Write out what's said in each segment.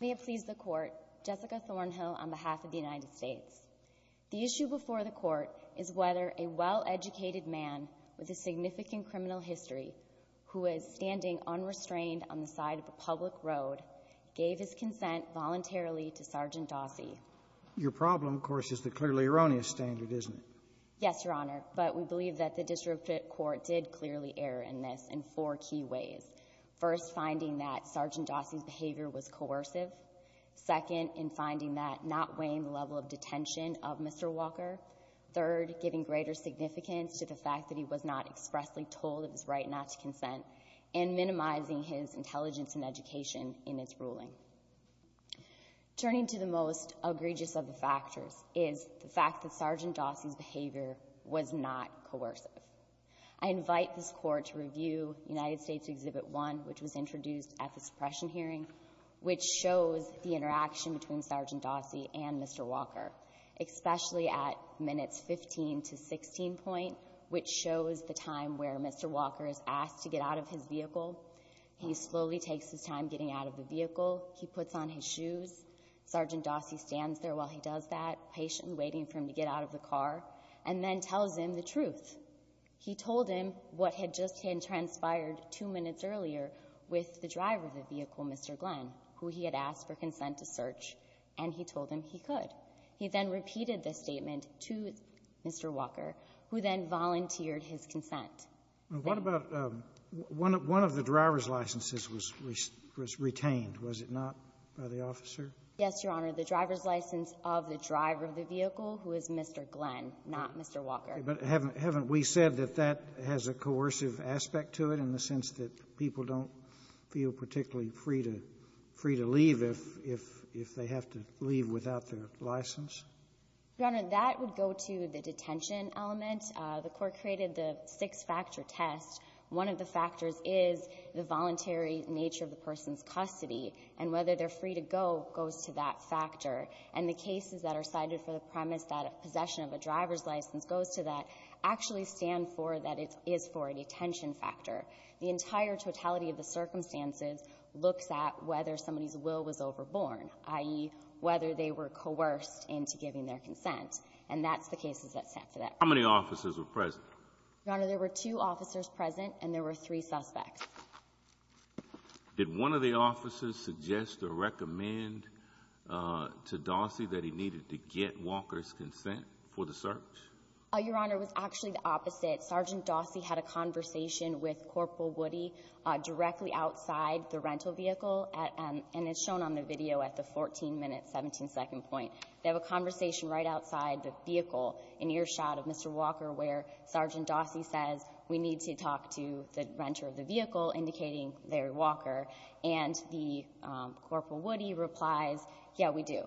May it please the Court, Jessica Thornhill on behalf of the United States. The issue before the Court is whether a well-educated man with a significant criminal history who is standing unrestrained on the side of a public road gave his consent voluntarily to Sgt. Dossie. Your problem, of course, is the clearly erroneous standard, isn't it? Yes, Your Honor, but we believe that the district court did clearly err in this in four key ways. First, finding that Sgt. Dossie's behavior was coercive. Second, in finding that not weighing the level of detention of Mr. Walker. Third, giving greater significance to the fact that he was not expressly told of his right not to consent and minimizing his intelligence and education in its ruling. Turning to the most egregious of the factors is the fact that Sgt. Dossie's behavior was not coercive. I invite this Court to review United States Exhibit 1, which was introduced at the suppression hearing, which shows the interaction between Sgt. Dossie and Mr. Walker, especially at minutes 15 to 16 point, which shows the time where Mr. Walker is asked to get out of his vehicle. He slowly takes his time getting out of the vehicle. He puts on his shoes. Sgt. Dossie stands there while he does that, patiently waiting for him to get out of the car, and then tells him the truth. He told him what had just transpired two minutes earlier with the driver of the vehicle, Mr. Glenn, who he had asked for consent to search, and he told him he could. He then volunteered his consent. What about one of the driver's licenses was retained, was it not, by the officer? Yes, Your Honor. The driver's license of the driver of the vehicle, who is Mr. Glenn, not Mr. Walker. But haven't we said that that has a coercive aspect to it in the sense that people don't feel particularly free to leave if they have to leave without their license? Your Honor, that would go to the detention element. The Court created the six-factor test. One of the factors is the voluntary nature of the person's custody, and whether they're free to go goes to that factor. And the cases that are cited for the premise that possession of a driver's license goes to that actually stand for that it is for a detention factor. The entire totality of the circumstances looks at whether somebody's will was overborne, i.e., whether they were coerced into giving their consent. And that's the cases that stand for that. How many officers were present? Your Honor, there were two officers present, and there were three suspects. Did one of the officers suggest or recommend to Dossie that he needed to get Walker's consent for the search? Your Honor, it was actually the opposite. Sergeant Dossie had a conversation with Corporal Woody directly outside the rental vehicle, and it's shown on the video at the 14-minute, 17-second point. They have a conversation right outside the vehicle in earshot of Mr. Walker, where Sergeant Dossie says, we need to talk to the renter of the vehicle, indicating Larry Walker. And the Corporal Woody replies, yes, we do.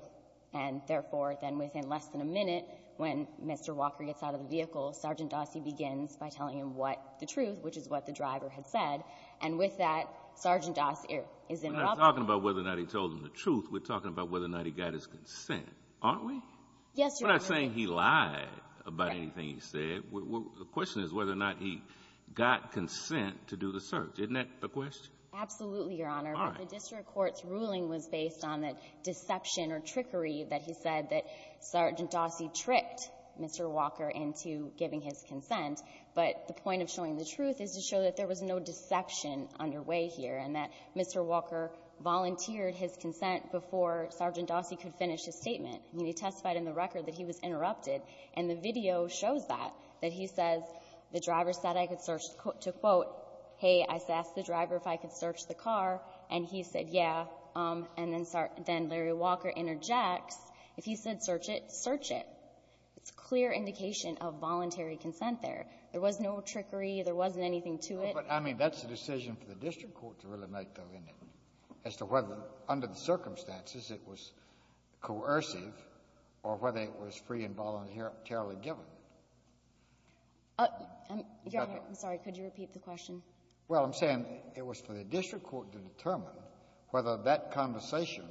And, therefore, then within less than a minute, when Mr. Walker gets out of the vehicle, Sergeant Dossie begins by telling him what the truth, which is what the driver had said. And with that, Sergeant Dossie is immobilized. We're not talking about whether or not he told him the truth. We're talking about whether or not he got his consent, aren't we? Yes, Your Honor. We're not saying he lied about anything he said. The question is whether or not he got consent to do the search. Isn't that the question? Absolutely, Your Honor. All right. But the district court's ruling was based on the deception or trickery that he said that Sergeant Dossie tricked Mr. Walker into giving his consent. But the point of showing the truth is to show that there was no deception underway here and that Mr. Walker volunteered his consent before Sergeant Dossie could finish his statement. I mean, he testified in the record that he was interrupted, and the video shows that, that he says the driver said I could search, to quote, hey, I asked the driver if I could search the car, and he said, yeah. And then Larry Walker interjects, if he said search it, search it. It's a clear indication of voluntary consent there. There was no trickery. There wasn't anything to it. But, I mean, that's a decision for the district court to really make, though, isn't it, as to whether under the circumstances it was coercive or whether it was free and voluntarily given? Your Honor, I'm sorry. Could you repeat the question? Well, I'm saying it was for the district court to determine whether that conversation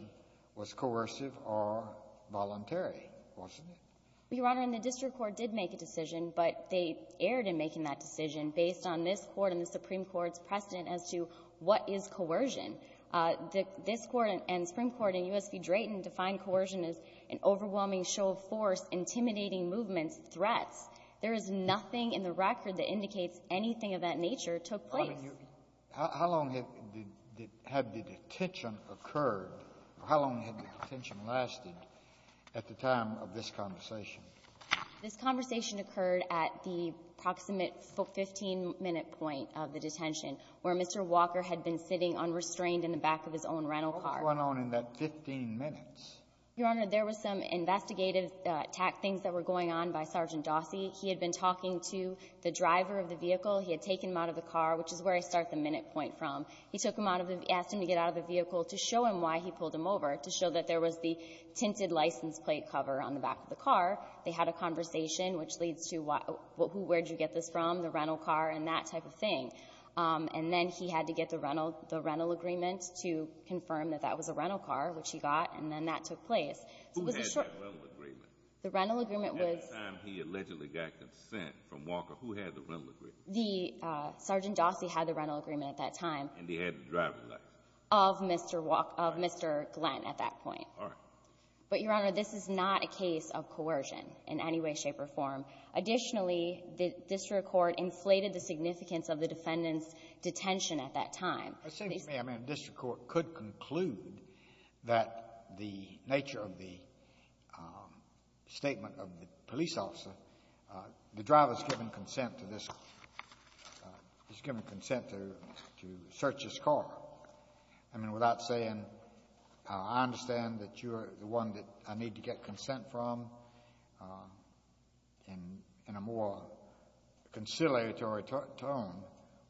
was coercive or voluntary, wasn't it? Your Honor, and the district court did make a decision, but they erred in making that decision based on this Court and the Supreme Court's precedent as to what is coercion. This Court and the Supreme Court in U.S. v. Drayton define coercion as an overwhelming show of force, intimidating movements, threats. There is nothing in the record that indicates anything of that nature took place. How long had the detention occurred? How long had the detention lasted at the time of this conversation? This conversation occurred at the approximate 15-minute point of the detention, where Mr. Walker had been sitting unrestrained in the back of his own rental car. What went on in that 15 minutes? Your Honor, there was some investigative things that were going on by Sergeant Dossie. He had been talking to the driver of the vehicle. He had taken him out of the car, which is where I start the minute point from. He took him out of the — asked him to get out of the vehicle to show him why he pulled him over, to show that there was the tinted license plate cover on the back of the car. They had a conversation, which leads to who — where did you get this from, the rental car, and that type of thing. And then he had to get the rental agreement to confirm that that was a rental car, which he got, and then that took place. So it was a short — Who had that rental agreement? The rental agreement was — At the time he allegedly got consent from Walker, who had the rental agreement? The — Sergeant Dossie had the rental agreement at that time. And he had the driver's license? Of Mr. Walker — of Mr. Glenn at that point. All right. But, Your Honor, this is not a case of coercion in any way, shape, or form. Additionally, the district court inflated the significance of the defendant's detention at that time. It seems to me, I mean, a district court could conclude that the nature of the statement of the police officer, the driver's given consent to this — he's given consent to search his car. I mean, without saying, I understand that you're the one that I need to get consent from, and a more conciliatory tone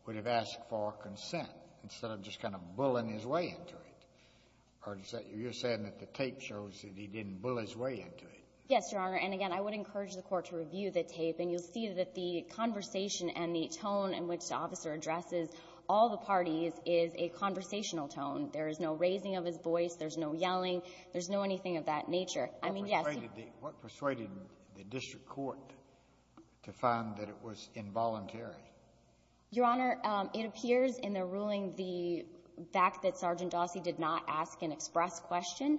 would have asked for consent instead of just kind of bullying his way into it. Or is that — you're saying that the tape shows that he didn't bully his way into it? Yes, Your Honor. And, again, I would encourage the Court to review the tape. And you'll see that the conversation and the tone in which the officer addresses all the parties is a conversational tone. There is no raising of his voice. There's no yelling. There's no anything of that nature. I mean, yes — What persuaded the — what persuaded the district court to find that it was involuntary? Your Honor, it appears in the ruling the fact that Sergeant Dawsey did not ask an express question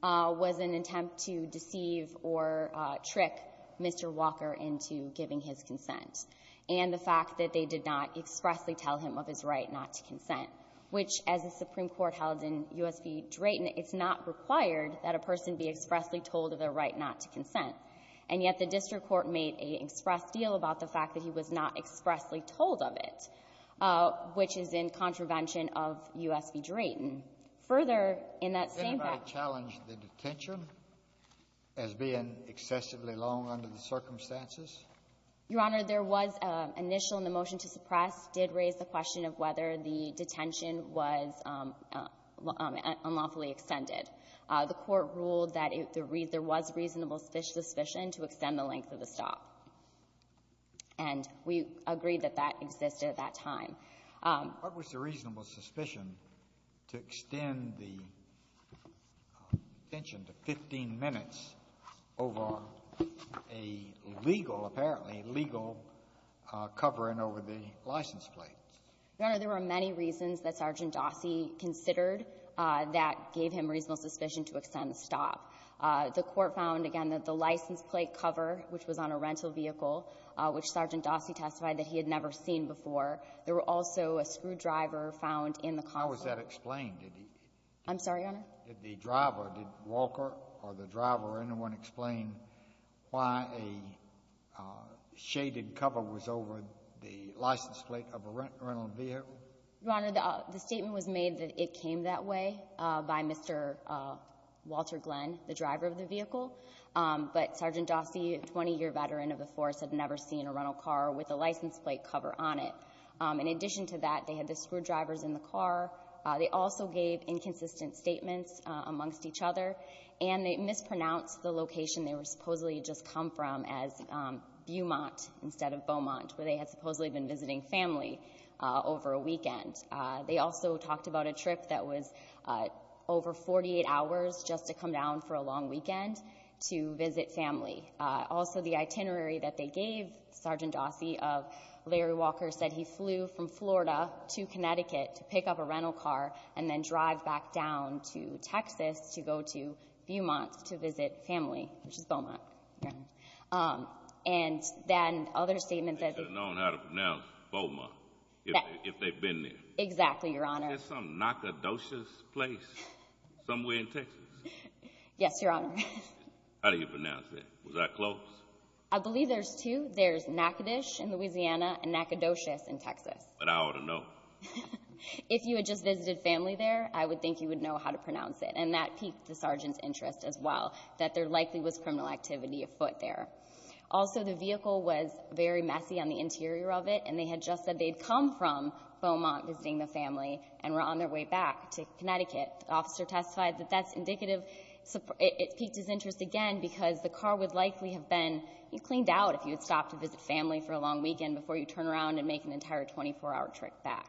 was an attempt to deceive or trick Mr. Walker into giving his consent and the fact that they did not expressly tell him of his right not to consent, which, as the Supreme Court held in U.S. v. Drayton, it's not required that a person be expressly told of their right not to consent. And yet the district court made an express deal about the fact that he was not expressly told of it, which is in contravention of U.S. v. Drayton. Further, in that same fact — Didn't it challenge the detention as being excessively long under the circumstances? Your Honor, there was an initial in the motion to suppress did raise the question of whether the detention was unlawfully extended. The Court ruled that there was reasonable suspicion to extend the length of the stop. And we agreed that that existed at that time. What was the reasonable suspicion to extend the detention to 15 minutes over a legal — apparently legal covering over the license plate? Your Honor, there were many reasons that Sergeant Dawsey considered that gave him reasonable suspicion to extend the stop. The Court found, again, that the license plate cover, which was on a rental vehicle, which Sergeant Dawsey testified that he had never seen before, there were also a screwdriver found in the car. How was that explained? I'm sorry, Your Honor? Did the driver, did Walker or the driver or anyone explain why a shaded cover was over the license plate of a rental vehicle? Your Honor, the statement was made that it came that way by Mr. Walter Glenn, the driver of the vehicle. But Sergeant Dawsey, a 20-year veteran of the force, had never seen a rental car with a license plate cover on it. In addition to that, they had the screwdrivers in the car. They also gave inconsistent statements amongst each other. And they mispronounced the location they were supposedly just come from as Beaumont instead of Beaumont, where they had supposedly been visiting family over a weekend. They also talked about a trip that was over 48 hours just to come down for a long weekend to visit family. Also, the itinerary that they gave Sergeant Dawsey of Larry Walker said he flew from Florida to Connecticut to pick up a rental car and then drive back down to Texas to go to Beaumont to visit family, which is Beaumont. Uh-huh. Um, and then other statements that— They should have known how to pronounce Beaumont if they'd been there. Exactly, Your Honor. Is there some Nacogdoches place somewhere in Texas? Yes, Your Honor. How do you pronounce that? Was that close? I believe there's two. There's Nacogdoches in Louisiana and Nacogdoches in Texas. But I ought to know. If you had just visited family there, I would think you would know how to pronounce it. And that piqued the sergeant's interest as well. That there likely was criminal activity afoot there. Also, the vehicle was very messy on the interior of it. And they had just said they'd come from Beaumont visiting the family and were on their way back to Connecticut. The officer testified that that's indicative—it piqued his interest again because the car would likely have been cleaned out if you had stopped to visit family for a long weekend before you turn around and make an entire 24-hour trip back.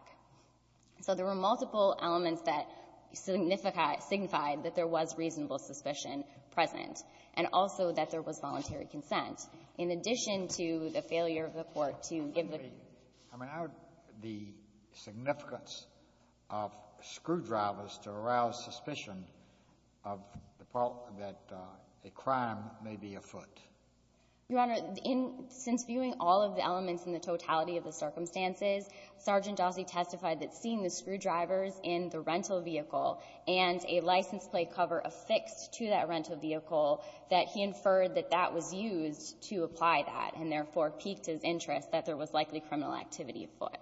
So there were multiple elements that signified that there was reasonable suspicion. Present. And also that there was voluntary consent. In addition to the failure of the court to give the— I mean, how—the significance of screwdrivers to arouse suspicion of the—that a crime may be afoot? Your Honor, in—since viewing all of the elements in the totality of the circumstances, Sergeant Dawsey testified that seeing the screwdrivers in the rental vehicle and a license plate cover affixed to that rental vehicle, that he inferred that that was used to apply that, and therefore piqued his interest that there was likely criminal activity afoot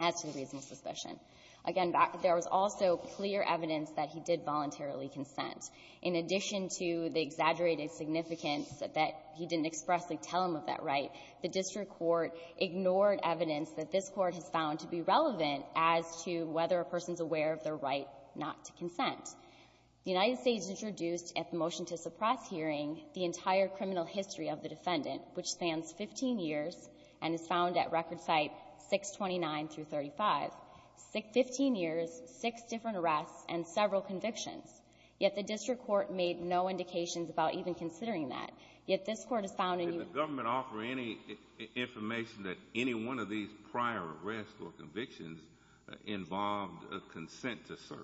as to the reasonable suspicion. Again, there was also clear evidence that he did voluntarily consent. In addition to the exaggerated significance that he didn't expressly tell him of that right, the district court ignored evidence that this court has found to be relevant The United States introduced at the motion to suppress hearing the entire criminal history of the defendant, which spans 15 years and is found at record site 629 through 35. Fifteen years, six different arrests, and several convictions. Yet the district court made no indications about even considering that. Yet this court has found— Did the government offer any information that any one of these prior arrests or convictions involved a consent to search?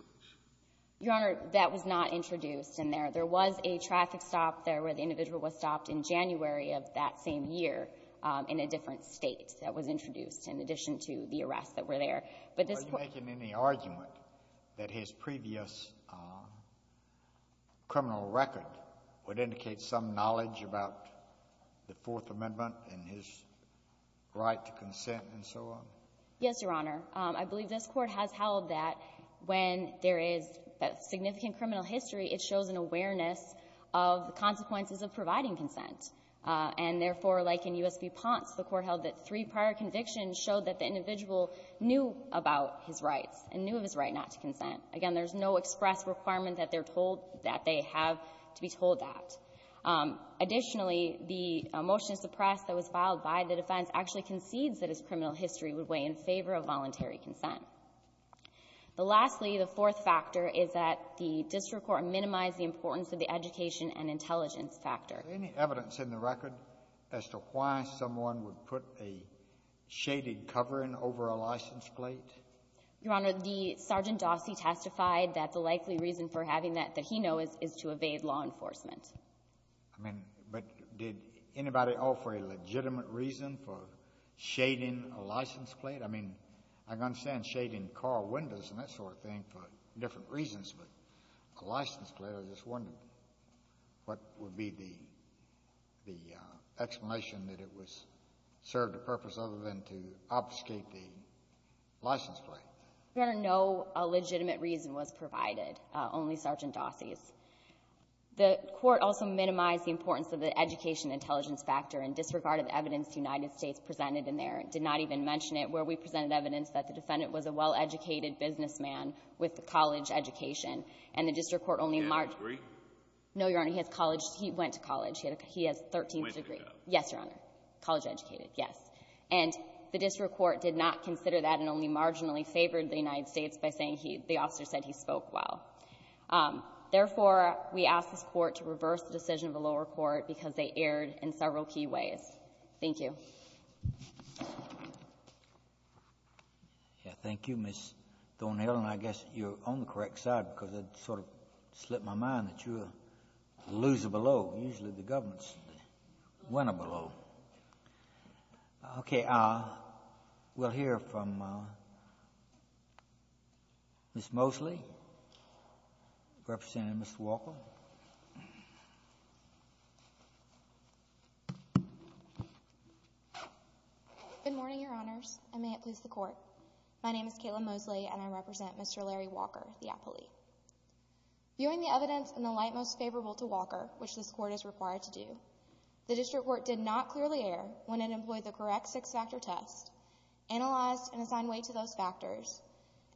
Your Honor, that was not introduced in there. There was a traffic stop there where the individual was stopped in January of that same year in a different State that was introduced in addition to the arrests that were there. But this court— Are you making any argument that his previous criminal record would indicate some knowledge about the Fourth Amendment and his right to consent and so on? Yes, Your Honor. I believe this court has held that when there is significant criminal history, it shows an awareness of the consequences of providing consent. And therefore, like in U.S. v. Ponce, the court held that three prior convictions showed that the individual knew about his rights and knew of his right not to consent. Again, there's no express requirement that they're told that they have to be told that. Additionally, the motion to suppress that was filed by the defense actually concedes that his criminal history would weigh in favor of voluntary consent. But lastly, the fourth factor is that the district court minimized the importance of the education and intelligence factor. Is there any evidence in the record as to why someone would put a shaded covering over a license plate? Your Honor, the Sergeant Dossie testified that the likely reason for having that that he knows is to evade law enforcement. I mean, but did anybody offer a legitimate reason for shading a license plate? I mean, I can understand shading car windows and that sort of thing for different reasons, but a license plate? I just wondered what would be the explanation that it was served a purpose other than to obfuscate the license plate. Your Honor, no legitimate reason was provided, only Sergeant Dossie's. The court also minimized the importance of the education and intelligence factor in disregard of evidence the United States presented in there. It did not even mention it where we presented evidence that the defendant was a well-educated businessman with a college education. And the district court only marginally ---- Did he have a degree? No, Your Honor. He has college. He went to college. He has a 13th degree. Yes, Your Honor. College-educated, yes. And the district court did not consider that and only marginally favored the United States by saying he — the officer said he spoke well. Therefore, we ask this Court to reverse the decision of the lower court because they erred in several key ways. Thank you. Yes, thank you, Ms. Thornhill. And I guess you're on the correct side because it sort of slipped my mind that you lose a below. Usually the government's the winner below. Okay. We'll hear from Ms. Mosley, representing Ms. Walker. Good morning, Your Honors, and may it please the Court. My name is Kayla Mosley, and I represent Mr. Larry Walker, the appellee. Viewing the evidence in the light most favorable to Walker, which this Court is required to do, the district court did not clearly err when it employed the correct six-factor test, analyzed and assigned weight to those factors,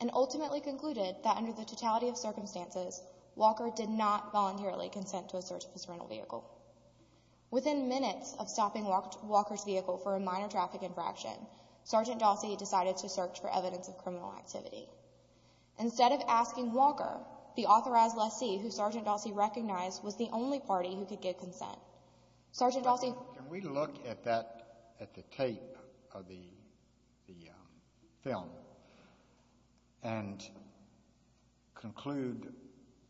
and ultimately concluded that under the totality of circumstances, Walker did not voluntarily consent to a search of his rental vehicle. Within minutes of stopping Walker's vehicle for a minor traffic infraction, Sergeant Dossi decided to search for evidence of criminal activity. Instead of asking Walker, the authorized lessee who Sergeant Dossi recognized was the only party who could give consent. Sergeant Dossi. Can we look at that, at the tape of the film, and conclude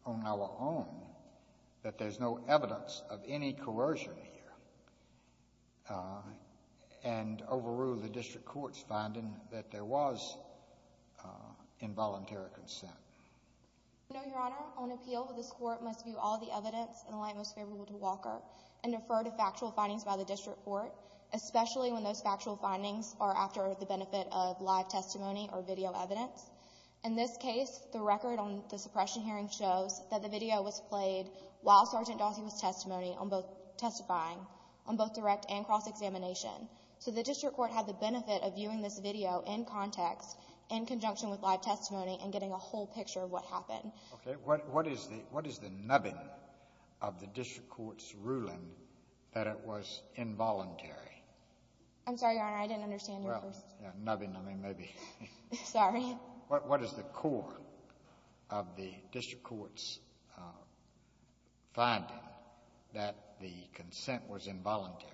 on our own that there's no evidence of any coercion here, and overrule the district court's finding that there was involuntary consent? No, Your Honor. On appeal, this Court must view all the evidence in the light most favorable to Walker and refer to factual findings by the district court, especially when those factual findings are after the benefit of live testimony or video evidence. In this case, the record on the suppression hearing shows that the video was played while Sergeant Dossi was testifying on both direct and cross-examination. So the district court had the benefit of viewing this video in context, in conjunction with live testimony, and getting a whole picture of what happened. Okay. What is the nubbing of the district court's ruling that it was involuntary? I'm sorry, Your Honor, I didn't understand your question. Well, yeah, nubbing, nubbing, maybe. Sorry. What is the core of the district court's finding that the consent was involuntary?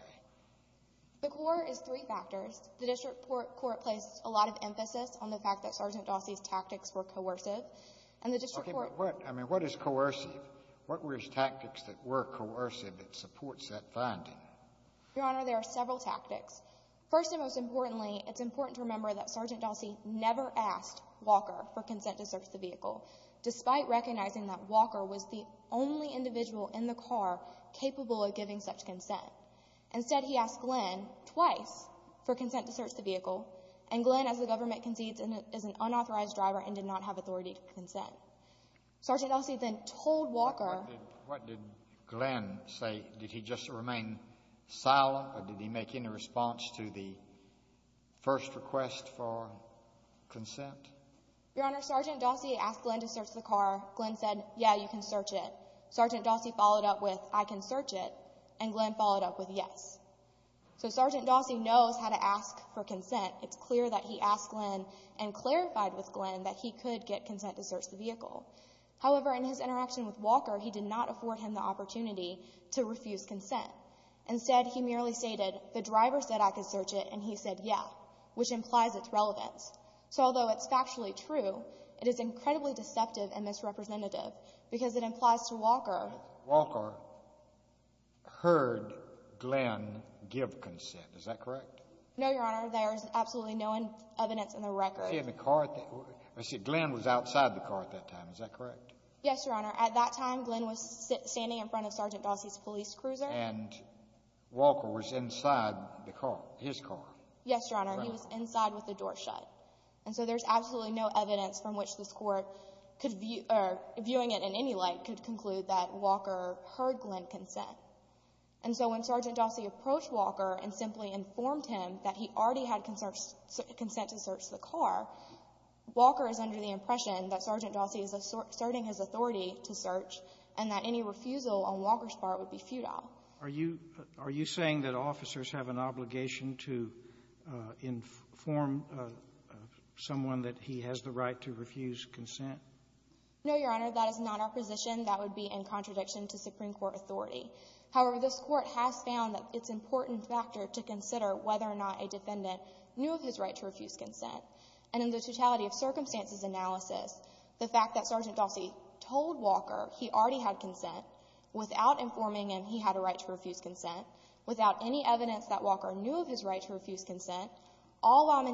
The core is three factors. The district court placed a lot of emphasis on the fact that Sergeant Dossi's tactics were coercive, and the district court — Okay, but what — I mean, what is coercive? What were his tactics that were coercive that supports that finding? Your Honor, there are several tactics. First and most importantly, it's important to remember that Sergeant Dossi never asked Walker for consent to search the vehicle, despite recognizing that Walker was the only individual in the car capable of giving such consent. Instead, he asked Glenn twice for consent to search the vehicle, and Glenn, as the government concedes, is an unauthorized driver and did not have authority to consent. Sergeant Dossi then told Walker — What did Glenn say? Did he just remain silent, or did he make any response to the first request for consent? Your Honor, Sergeant Dossi asked Glenn to search the car. Glenn said, yeah, you can search it. And Glenn followed up with yes. So Sergeant Dossi knows how to ask for consent. It's clear that he asked Glenn and clarified with Glenn that he could get consent to search the vehicle. However, in his interaction with Walker, he did not afford him the opportunity to refuse consent. Instead, he merely stated, the driver said I could search it, and he said, yeah, which implies its relevance. So although it's factually true, it is incredibly deceptive and misrepresentative because it implies to Walker — Walker heard Glenn give consent. Is that correct? No, Your Honor. There is absolutely no evidence in the record. He was in the car at that — Glenn was outside the car at that time. Is that correct? Yes, Your Honor. At that time, Glenn was standing in front of Sergeant Dossi's police cruiser. And Walker was inside the car, his car? Yes, Your Honor. He was inside with the door shut. And so there's absolutely no evidence from which this Court could view — or viewing it in any light could conclude that Walker heard Glenn consent. And so when Sergeant Dossi approached Walker and simply informed him that he already had consent to search the car, Walker is under the impression that Sergeant Dossi is asserting his authority to search and that any refusal on Walker's part would be futile. Are you — are you saying that officers have an obligation to inform someone that he has the right to refuse consent? No, Your Honor. That is not our position. That would be in contradiction to Supreme Court authority. However, this Court has found that it's an important factor to consider whether or not a defendant knew of his right to refuse consent. And in the totality of circumstances analysis, the fact that Sergeant Dossi told Walker he already had consent without informing him he had a right to refuse consent, without any evidence that Walker knew of his right to refuse consent, all while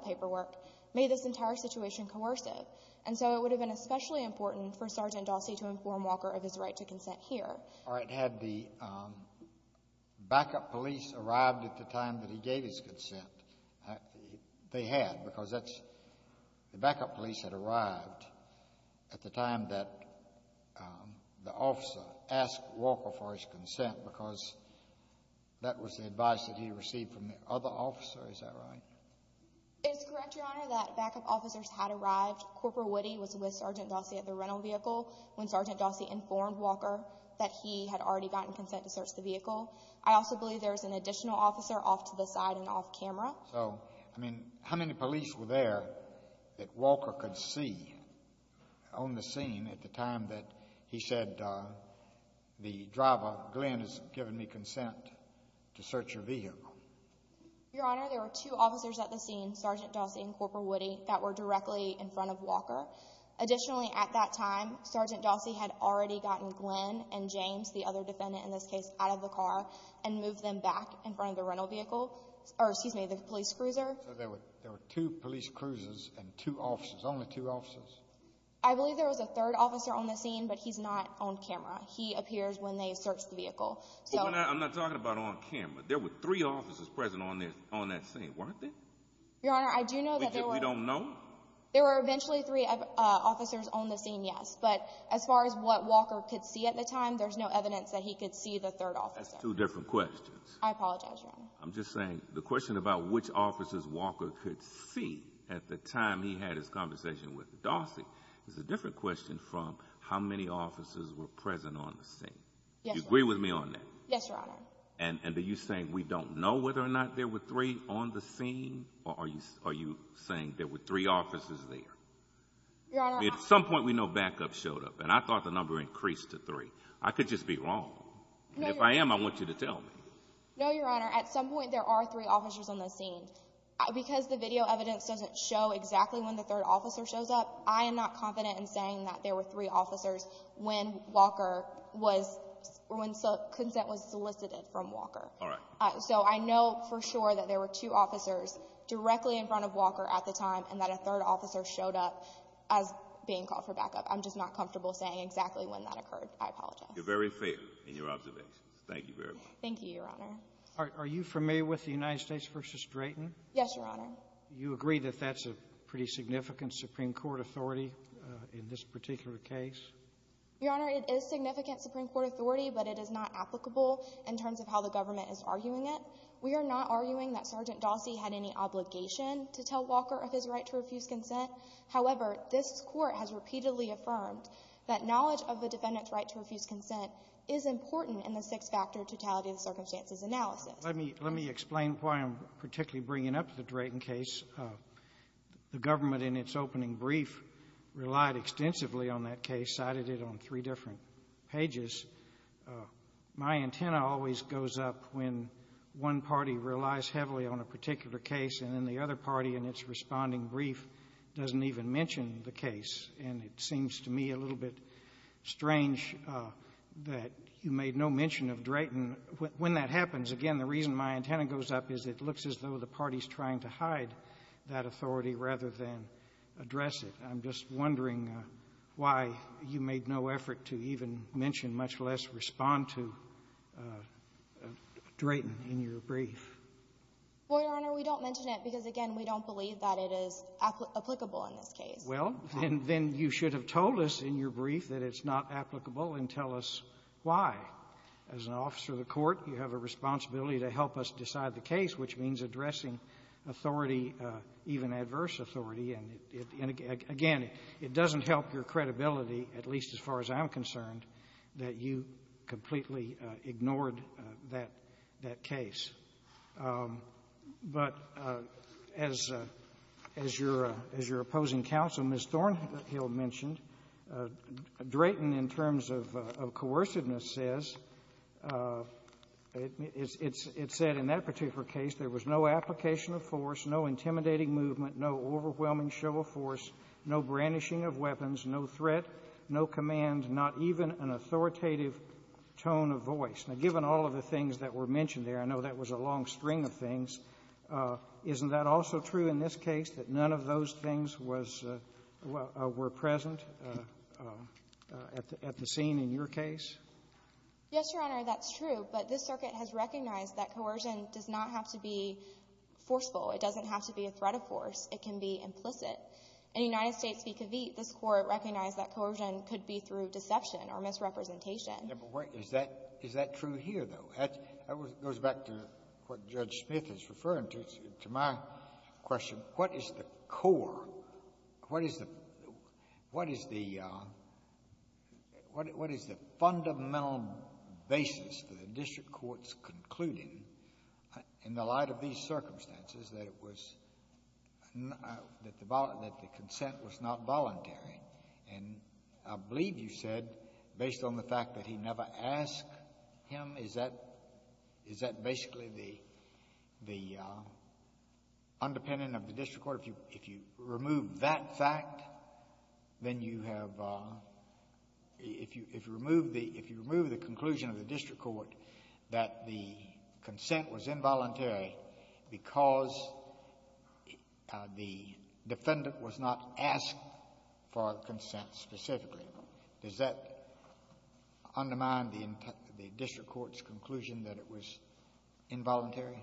paperwork, made this entire situation coercive. And so it would have been especially important for Sergeant Dossi to inform Walker of his right to consent here. All right. Had the backup police arrived at the time that he gave his consent — they had, because that's — the backup police had arrived at the time that the officer asked Walker for his consent because that was the advice that he received from the other officer. Is that right? It is correct, Your Honor, that backup officers had arrived. Corporal Woody was with Sergeant Dossi at the rental vehicle when Sergeant Dossi informed Walker that he had already gotten consent to search the vehicle. I also believe there was an additional officer off to the side and off camera. So, I mean, how many police were there that Walker could see on the scene at the time that he said the driver, Glenn, has given me consent to search your vehicle? Your Honor, there were two officers at the scene, Sergeant Dossi and Corporal Woody, that were directly in front of Walker. Additionally, at that time, Sergeant Dossi had already gotten Glenn and James, the other defendant in this case, out of the car and moved them back in front of the rental vehicle — or, excuse me, the police cruiser. So there were two police cruisers and two officers, only two officers? I believe there was a third officer on the scene, but he's not on camera. He appears when they search the vehicle. I'm not talking about on camera. There were three officers present on that scene, weren't there? Your Honor, I do know that there were. We don't know? There were eventually three officers on the scene, yes, but as far as what Walker could see at the time, there's no evidence that he could see the third officer. That's two different questions. I apologize, Your Honor. I'm just saying the question about which officers Walker could see at the time he had his conversation with Dossi is a different question from how many officers were present on the scene. Yes, Your Honor. Do you agree with me on that? Yes, Your Honor. And are you saying we don't know whether or not there were three on the scene, or are you saying there were three officers there? Your Honor, I'm — I mean, at some point we know backup showed up, and I thought the number increased to three. I could just be wrong. No, Your Honor. And if I am, I want you to tell me. No, Your Honor. At some point there are three officers on the scene. Because the video evidence doesn't show exactly when the third officer shows up, I am not confident in saying that there were three officers when Walker was — when consent was solicited from Walker. All right. So I know for sure that there were two officers directly in front of Walker at the time and that a third officer showed up as being called for backup. I'm just not comfortable saying exactly when that occurred. I apologize. You're very fair in your observations. Thank you very much. Thank you, Your Honor. Are you familiar with the United States v. Drayton? Yes, Your Honor. You agree that that's a pretty significant Supreme Court authority in this particular case? Your Honor, it is significant Supreme Court authority, but it is not applicable in terms of how the government is arguing it. We are not arguing that Sergeant Dossi had any obligation to tell Walker of his right to refuse consent. However, this Court has repeatedly affirmed that knowledge of the defendant's right to refuse consent is important in the six-factor totality of the circumstances analysis. Well, let me explain why I'm particularly bringing up the Drayton case. The government in its opening brief relied extensively on that case, cited it on three different pages. My antenna always goes up when one party relies heavily on a particular case and then the other party in its responding brief doesn't even mention the case. And it seems to me a little bit strange that you made no mention of Drayton. And when that happens, again, the reason my antenna goes up is it looks as though the party's trying to hide that authority rather than address it. I'm just wondering why you made no effort to even mention, much less respond to, Drayton in your brief. Well, Your Honor, we don't mention it because, again, we don't believe that it is applicable in this case. Well, then you should have told us in your brief that it's not applicable and tell us why. As an officer of the Court, you have a responsibility to help us decide the case, which means addressing authority, even adverse authority. And, again, it doesn't help your credibility, at least as far as I'm concerned, that you completely ignored that case. But as your opposing counsel, Ms. Thornhill, mentioned, Drayton, in terms of coerciveness, says, it's said in that particular case there was no application of force, no intimidating movement, no overwhelming show of force, no brandishing of weapons, no threat, no command, not even an authoritative tone of voice. Now, given all of the things that were mentioned there, I know that was a long string of things. Isn't that also true in this case, that none of those things was or were present at the scene in your case? Yes, Your Honor, that's true. But this Circuit has recognized that coercion does not have to be forceful. It doesn't have to be a threat of force. It can be implicit. In the United States v. Cavite, this Court recognized that coercion could be through deception or misrepresentation. Is that true here, though? That goes back to what Judge Smith is referring to, to my question. What is the core, what is the fundamental basis that the district court's concluding in the light of these circumstances that it was — that the consent was not voluntary? And I believe you said, based on the fact that he never asked him, is that basically the underpinning of the district court? If you remove that fact, then you have — if you remove the conclusion of the district court that the consent was involuntary because the defendant was not asked for consent, specifically, does that undermine the district court's conclusion that it was involuntary?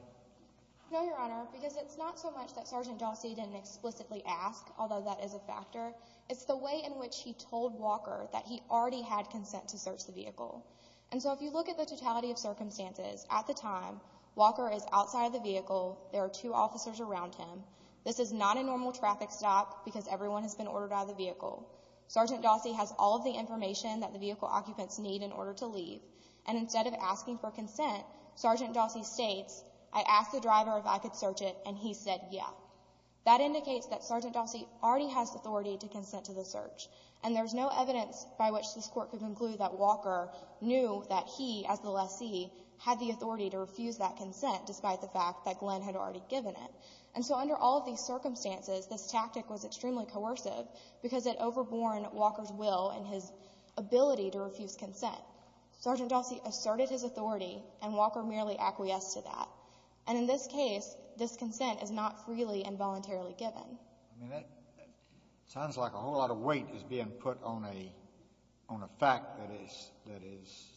No, Your Honor, because it's not so much that Sergeant Dawsey didn't explicitly ask, although that is a factor. It's the way in which he told Walker that he already had consent to search the vehicle. And so if you look at the totality of circumstances, at the time, Walker is outside of the vehicle. There are two officers around him. This is not a normal traffic stop because everyone has been ordered out of the vehicle. Sergeant Dawsey has all of the information that the vehicle occupants need in order to leave. And instead of asking for consent, Sergeant Dawsey states, I asked the driver if I could search it, and he said, yeah. That indicates that Sergeant Dawsey already has authority to consent to the search. And there's no evidence by which this court could conclude that Walker knew that he, as the lessee, had the authority to refuse that consent, despite the fact that Glenn had already given it. And so under all of these circumstances, this tactic was extremely coercive because it overborne Walker's will and his ability to refuse consent. Sergeant Dawsey asserted his authority, and Walker merely acquiesced to that. And in this case, this consent is not freely and voluntarily given. I mean, that sounds like a whole lot of weight is being put on a fact that is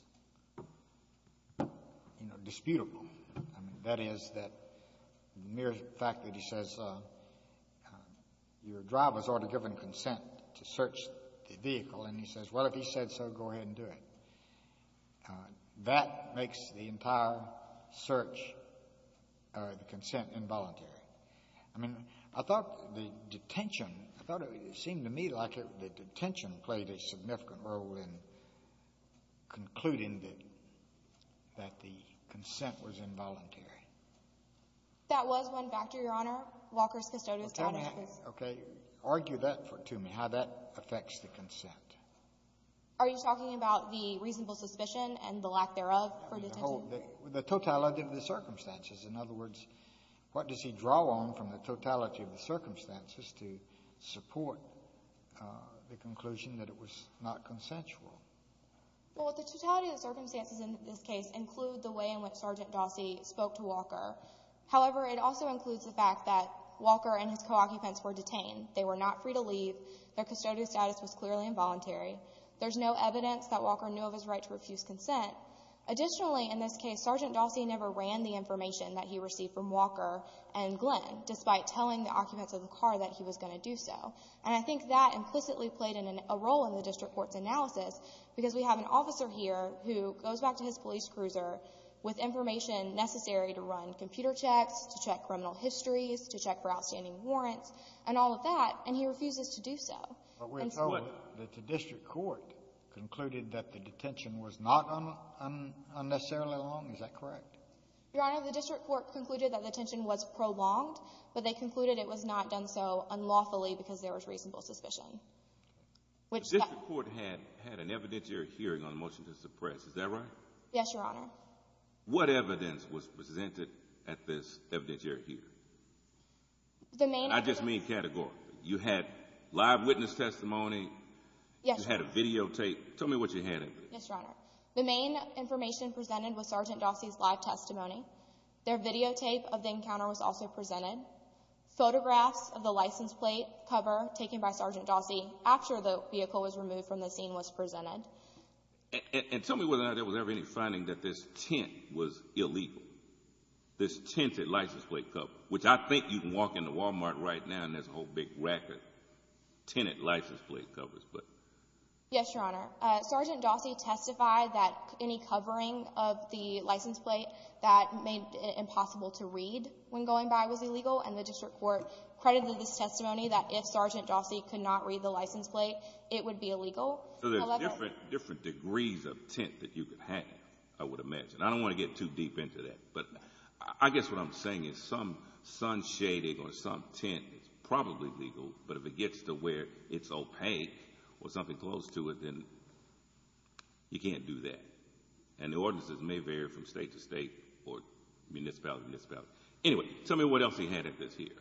disputable. I mean, that is that mere fact that he says, your driver has already given consent to search the vehicle, and he says, well, if he said so, go ahead and do it. That makes the entire search or the consent involuntary. I mean, I thought the detention, I thought it seemed to me like the detention played a significant role in concluding that the consent was involuntary. That was one factor, Your Honor. Walker's custodial status was the reason. Okay. Argue that to me, how that affects the consent. Are you talking about the reasonable suspicion and the lack thereof for detention? The totality of the circumstances. In other words, what does he draw on from the totality of the circumstances to support the conclusion that it was not consensual? Well, the totality of the circumstances in this case include the way in which Sergeant Dossey spoke to Walker. However, it also includes the fact that Walker and his co-occupants were detained. They were not free to leave. Their custodial status was clearly involuntary. There's no evidence that Walker knew of his right to refuse consent. Additionally, in this case, Sergeant Dossey never ran the information that he received from Walker and Glenn, despite telling the occupants of the car that he was going to do so. And I think that implicitly played a role in the district court's analysis because we have an officer here who goes back to his police cruiser with information necessary to run computer checks, to check criminal histories, to check for outstanding warrants, and all of that, and he refuses to do so. But we're told that the district court concluded that the detention was not unnecessarily long. Is that correct? Your Honor, the district court concluded that the detention was prolonged, but they concluded it was not done so unlawfully because there was reasonable suspicion. The district court had an evidentiary hearing on the motion to suppress. Is that right? Yes, Your Honor. What evidence was presented at this evidentiary hearing? I just mean categorically. You had live witness testimony, you had a videotape. Tell me what you had in there. Yes, Your Honor. The main information presented was Sergeant Dossie's live testimony. Their videotape of the encounter was also presented. Photographs of the license plate cover taken by Sergeant Dossie after the vehicle was removed from the scene was presented. And tell me whether or not there was ever any finding that this tint was illegal, this tinted license plate cover, which I think you can walk into Walmart right now and there's a whole big rack of tinted license plate covers. Yes, Your Honor. Sergeant Dossie testified that any covering of the license plate that made it impossible to read when going by was illegal, and the district court credited this testimony that if Sergeant Dossie could not read the license plate, it would be illegal. So there's different degrees of tint that you could have, I would imagine. I don't want to get too deep into that, but I guess what I'm saying is some sun shading or some tint is probably legal, but if it gets to where it's opaque or something close to it, then you can't do that. And the ordinances may vary from state to state or municipality to municipality. Anyway, tell me what else he had at this hearing.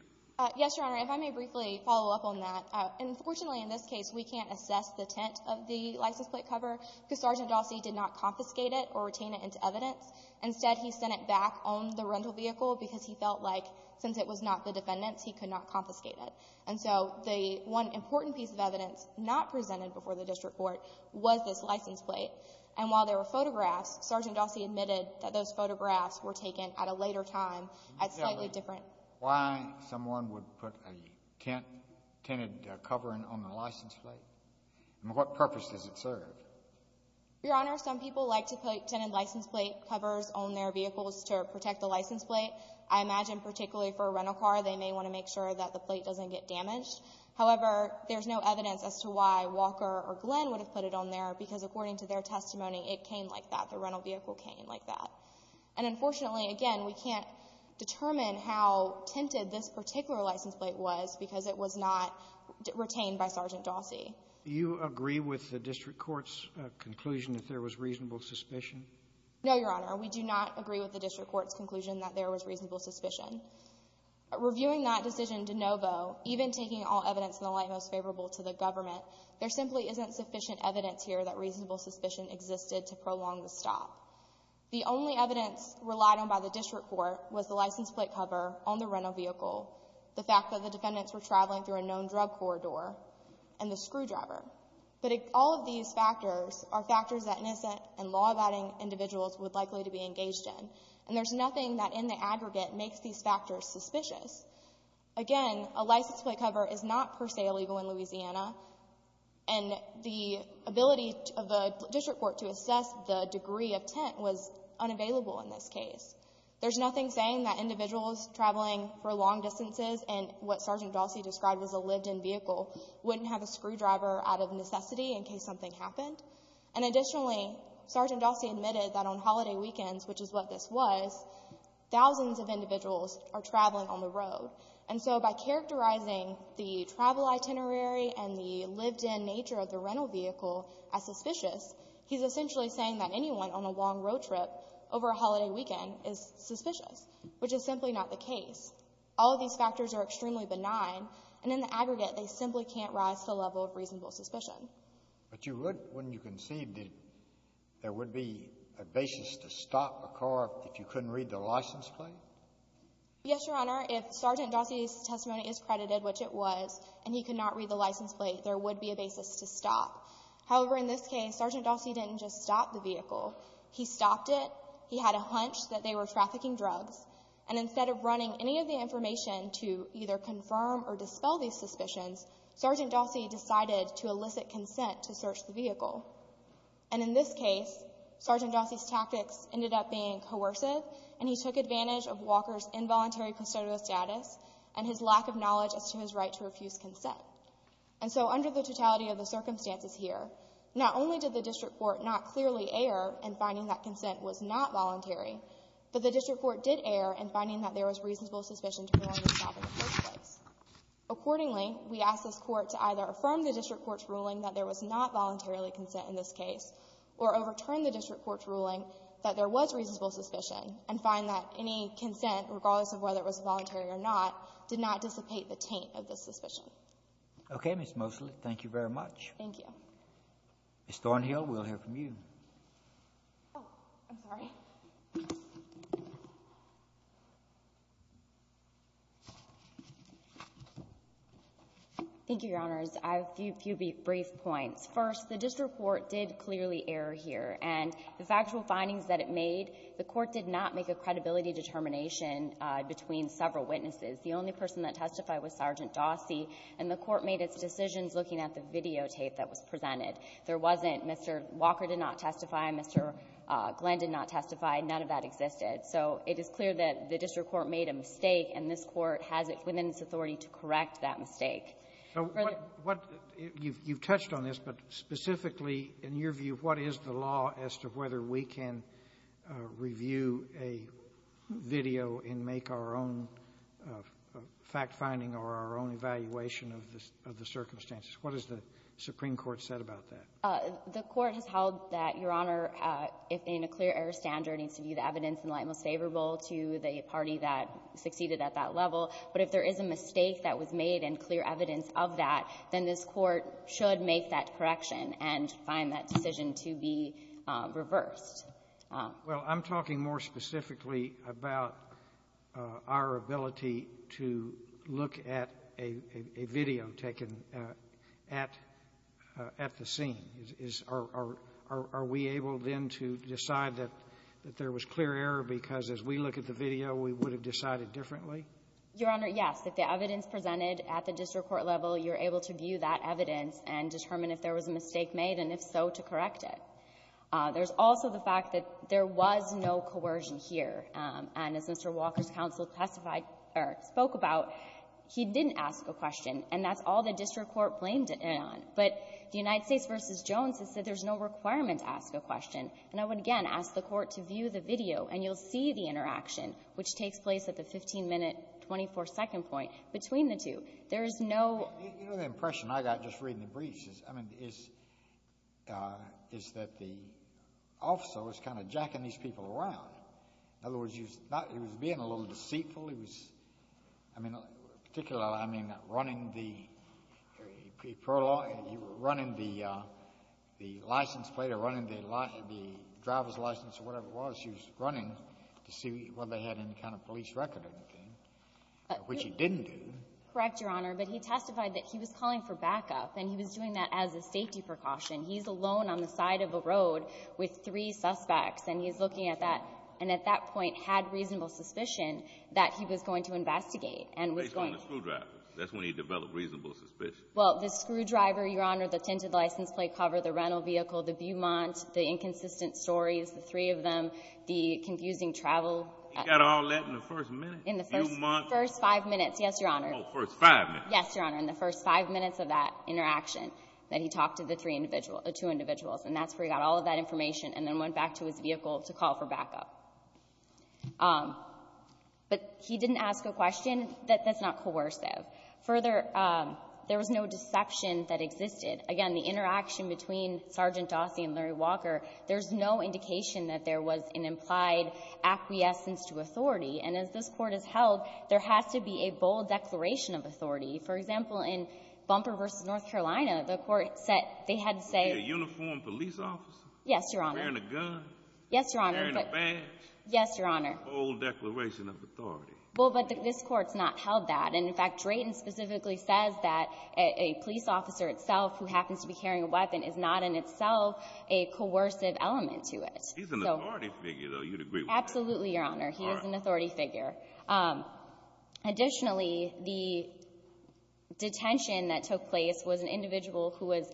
Yes, Your Honor. If I may briefly follow up on that, unfortunately in this case, we can't assess the tint of the license plate cover because Sergeant Dossie did not confiscate it or retain it into evidence. Instead, he sent it back on the rental vehicle because he felt like since it was not the defendant's, he could not confiscate it. And so the one important piece of evidence not presented before the district court was this license plate. And while there were photographs, Sergeant Dossie admitted that those photographs were taken at a later time, at slightly different... Why someone would put a tinted covering on the license plate, and what purpose does it serve? Your Honor, some people like to put tinted license plate covers on their vehicles to protect the license plate. I imagine particularly for a rental car, they may want to make sure that the plate doesn't get damaged. However, there's no evidence as to why Walker or Glenn would have put it on there, because according to their testimony, it came like that. The rental vehicle came like that. And unfortunately, again, we can't determine how tinted this particular license plate was because it was not retained by Sergeant Dossie. Do you agree with the district court's conclusion that there was reasonable suspicion? No, Your Honor. We do not agree with the district court's conclusion that there was reasonable suspicion. Reviewing that decision de novo, even taking all evidence in the light most favorable to the government, there simply isn't sufficient evidence here that reasonable suspicion existed to prolong the stop. The only evidence relied on by the district court was the license plate cover on the rental vehicle, the fact that the defendants were traveling through a known drug corridor, and the screwdriver. But all of these factors are factors that innocent and law-abiding individuals would likely to be engaged in. And there's nothing that in the aggregate makes these factors suspicious. Again, a license plate cover is not per se illegal in Louisiana, and the ability of the district court to assess the degree of tint was unavailable in this case. There's nothing saying that individuals traveling for long distances in what Sergeant Dossie described as a lived-in vehicle wouldn't have a screwdriver out of necessity in case something happened. And additionally, Sergeant Dossie admitted that on holiday weekends, which is what this was, thousands of individuals are traveling on the road. And so by characterizing the travel itinerary and the lived-in nature of the rental vehicle as suspicious, he's essentially saying that anyone on a long road trip over a holiday weekend is suspicious, which is simply not the case. All of these factors are extremely benign, and in the aggregate, they simply can't rise to the level of reasonable suspicion. But you would, wouldn't you concede that there would be a basis to stop a car if you couldn't read the license plate? Yes, Your Honor. If Sergeant Dossie's testimony is credited, which it was, and he could not read the license plate, there would be a basis to stop. However, in this case, Sergeant Dossie didn't just stop the vehicle. He stopped it. He had a hunch that they were trafficking drugs. And instead of running any of the information to either confirm or dispel these facts, he sought the consent to search the vehicle. And in this case, Sergeant Dossie's tactics ended up being coercive, and he took advantage of Walker's involuntary custodial status and his lack of knowledge as to his right to refuse consent. And so under the totality of the circumstances here, not only did the district court not clearly err in finding that consent was not voluntary, but the district court did err in finding that there was reasonable suspicion to prevent this from happening in the first place. Accordingly, we ask this Court to either affirm the district court's ruling that there was not voluntarily consent in this case, or overturn the district court's ruling that there was reasonable suspicion and find that any consent, regardless of whether it was voluntary or not, did not dissipate the taint of this suspicion. Okay, Ms. Mosley. Thank you very much. Thank you. Oh, I'm sorry. Thank you, Your Honors. I have a few brief points. First, the district court did clearly err here. And the factual findings that it made, the court did not make a credibility determination between several witnesses. The only person that testified was Sergeant Dossie, and the court made its decisions looking at the videotape that was presented. There wasn't Mr. Walker did not testify. Mr. Glenn did not testify. None of that existed. So it is clear that the district court made a mistake, and this Court has it within its authority to correct that mistake. So what you've touched on this, but specifically, in your view, what is the law as to whether we can review a video and make our own fact-finding or our own evaluation of the circumstances? What has the Supreme Court said about that? The Court has held that, Your Honor, in a clear error standard, it needs to be the evidence in light most favorable to the party that succeeded at that level. But if there is a mistake that was made and clear evidence of that, then this Court should make that correction and find that decision to be reversed. Well, I'm talking more specifically about our ability to look at a video taken at the scene. Are we able, then, to decide that there was clear error because as we look at the video, we would have decided differently? Your Honor, yes. If the evidence presented at the district court level, you're able to view that evidence and determine if there was a mistake made, and if so, to correct it. There's also the fact that there was no coercion here. And as Mr. Walker's counsel testified or spoke about, he didn't ask a question, and that's all the district court blamed it on. But the United States v. Jones has said there's no requirement to ask a question. And I would, again, ask the Court to view the video, and you'll see the interaction, which takes place at the 15-minute, 24-second point between the two. There is no — You know, the impression I got just reading the briefs is, I mean, is that the officer was kind of jacking these people around. In other words, he was being a little deceitful. He was, I mean, particularly, I mean, running the license plate or running the driver's license or whatever it was, he was running to see whether they had any kind of police record or anything, which he didn't do. Correct, Your Honor. But he testified that he was calling for backup, and he was doing that as a safety precaution. He's alone on the side of the road with three suspects, and he's looking at that point, had reasonable suspicion that he was going to investigate, and was going to. Based on the screwdriver. That's when he developed reasonable suspicion. Well, the screwdriver, Your Honor, the tinted license plate cover, the rental vehicle, the Beaumont, the inconsistent stories, the three of them, the confusing travel. He got all that in the first minute? In the first five minutes, yes, Your Honor. Oh, the first five minutes. Yes, Your Honor. In the first five minutes of that interaction that he talked to the three individuals — the two individuals. And that's where he got all of that information and then went back to his vehicle to call for backup. But he didn't ask a question that's not coercive. Further, there was no deception that existed. Again, the interaction between Sergeant Dawsey and Larry Walker, there's no indication that there was an implied acquiescence to authority. And as this Court has held, there has to be a bold declaration of authority. For example, in Bumper v. North Carolina, the Court said they had to say — Was he a uniformed police officer? Yes, Your Honor. Was he wearing a gun? Yes, Your Honor. Was he wearing a badge? Yes, Your Honor. A bold declaration of authority. Well, but this Court's not held that. And, in fact, Drayton specifically says that a police officer itself who happens to be carrying a weapon is not in itself a coercive element to it. He's an authority figure, though. You'd agree with that? Absolutely, Your Honor. All right. He is an authority figure. Additionally, the detention that took place was an individual who was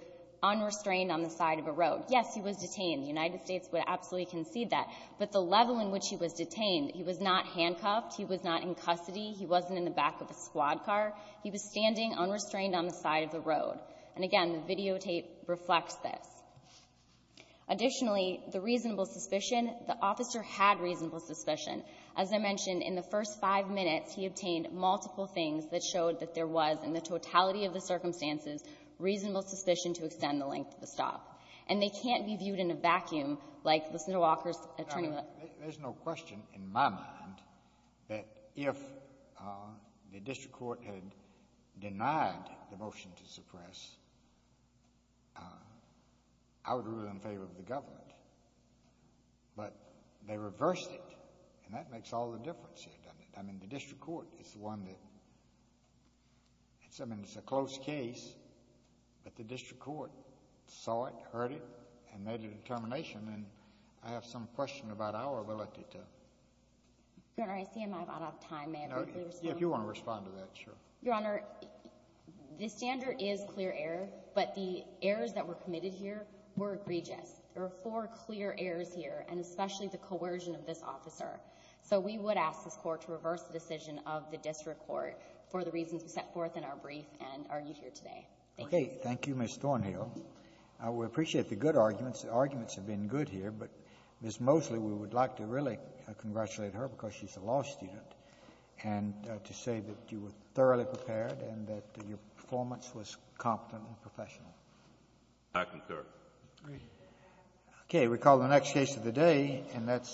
unrestrained on the side of a road. Yes, he was detained. The United States would absolutely concede that. But the level in which he was detained, he was not handcuffed. He was not in custody. He wasn't in the back of a squad car. He was standing unrestrained on the side of the road. And, again, the videotape reflects this. Additionally, the reasonable suspicion, the officer had reasonable suspicion. As I mentioned, in the first five minutes, he obtained multiple things that showed that there was, in the totality of the circumstances, reasonable suspicion to extend the length of the stop. And they can't be viewed in a vacuum like Lucinda Walker's attorney. There's no question in my mind that if the district court had denied the motion to suppress, I would rule in favor of the government. But they reversed it, and that makes all the difference here, doesn't it? I mean, the district court is the one that — I mean, it's a close case, but the district court heard it and made a determination. And I have some question about our ability to. Your Honor, I see I'm out of time. May I briefly respond? No. If you want to respond to that, sure. Your Honor, the standard is clear error, but the errors that were committed here were egregious. There were four clear errors here, and especially the coercion of this officer. So we would ask this court to reverse the decision of the district court for the reasons we set forth in our brief and argued here today. Thank you. Okay. Thank you, Ms. Thornhill. We appreciate the good arguments. The arguments have been good here. But Ms. Mosley, we would like to really congratulate her because she's a law student and to say that you were thoroughly prepared and that your performance was competent and professional. Thank you, sir. Okay. We call the next case of the day, and that's —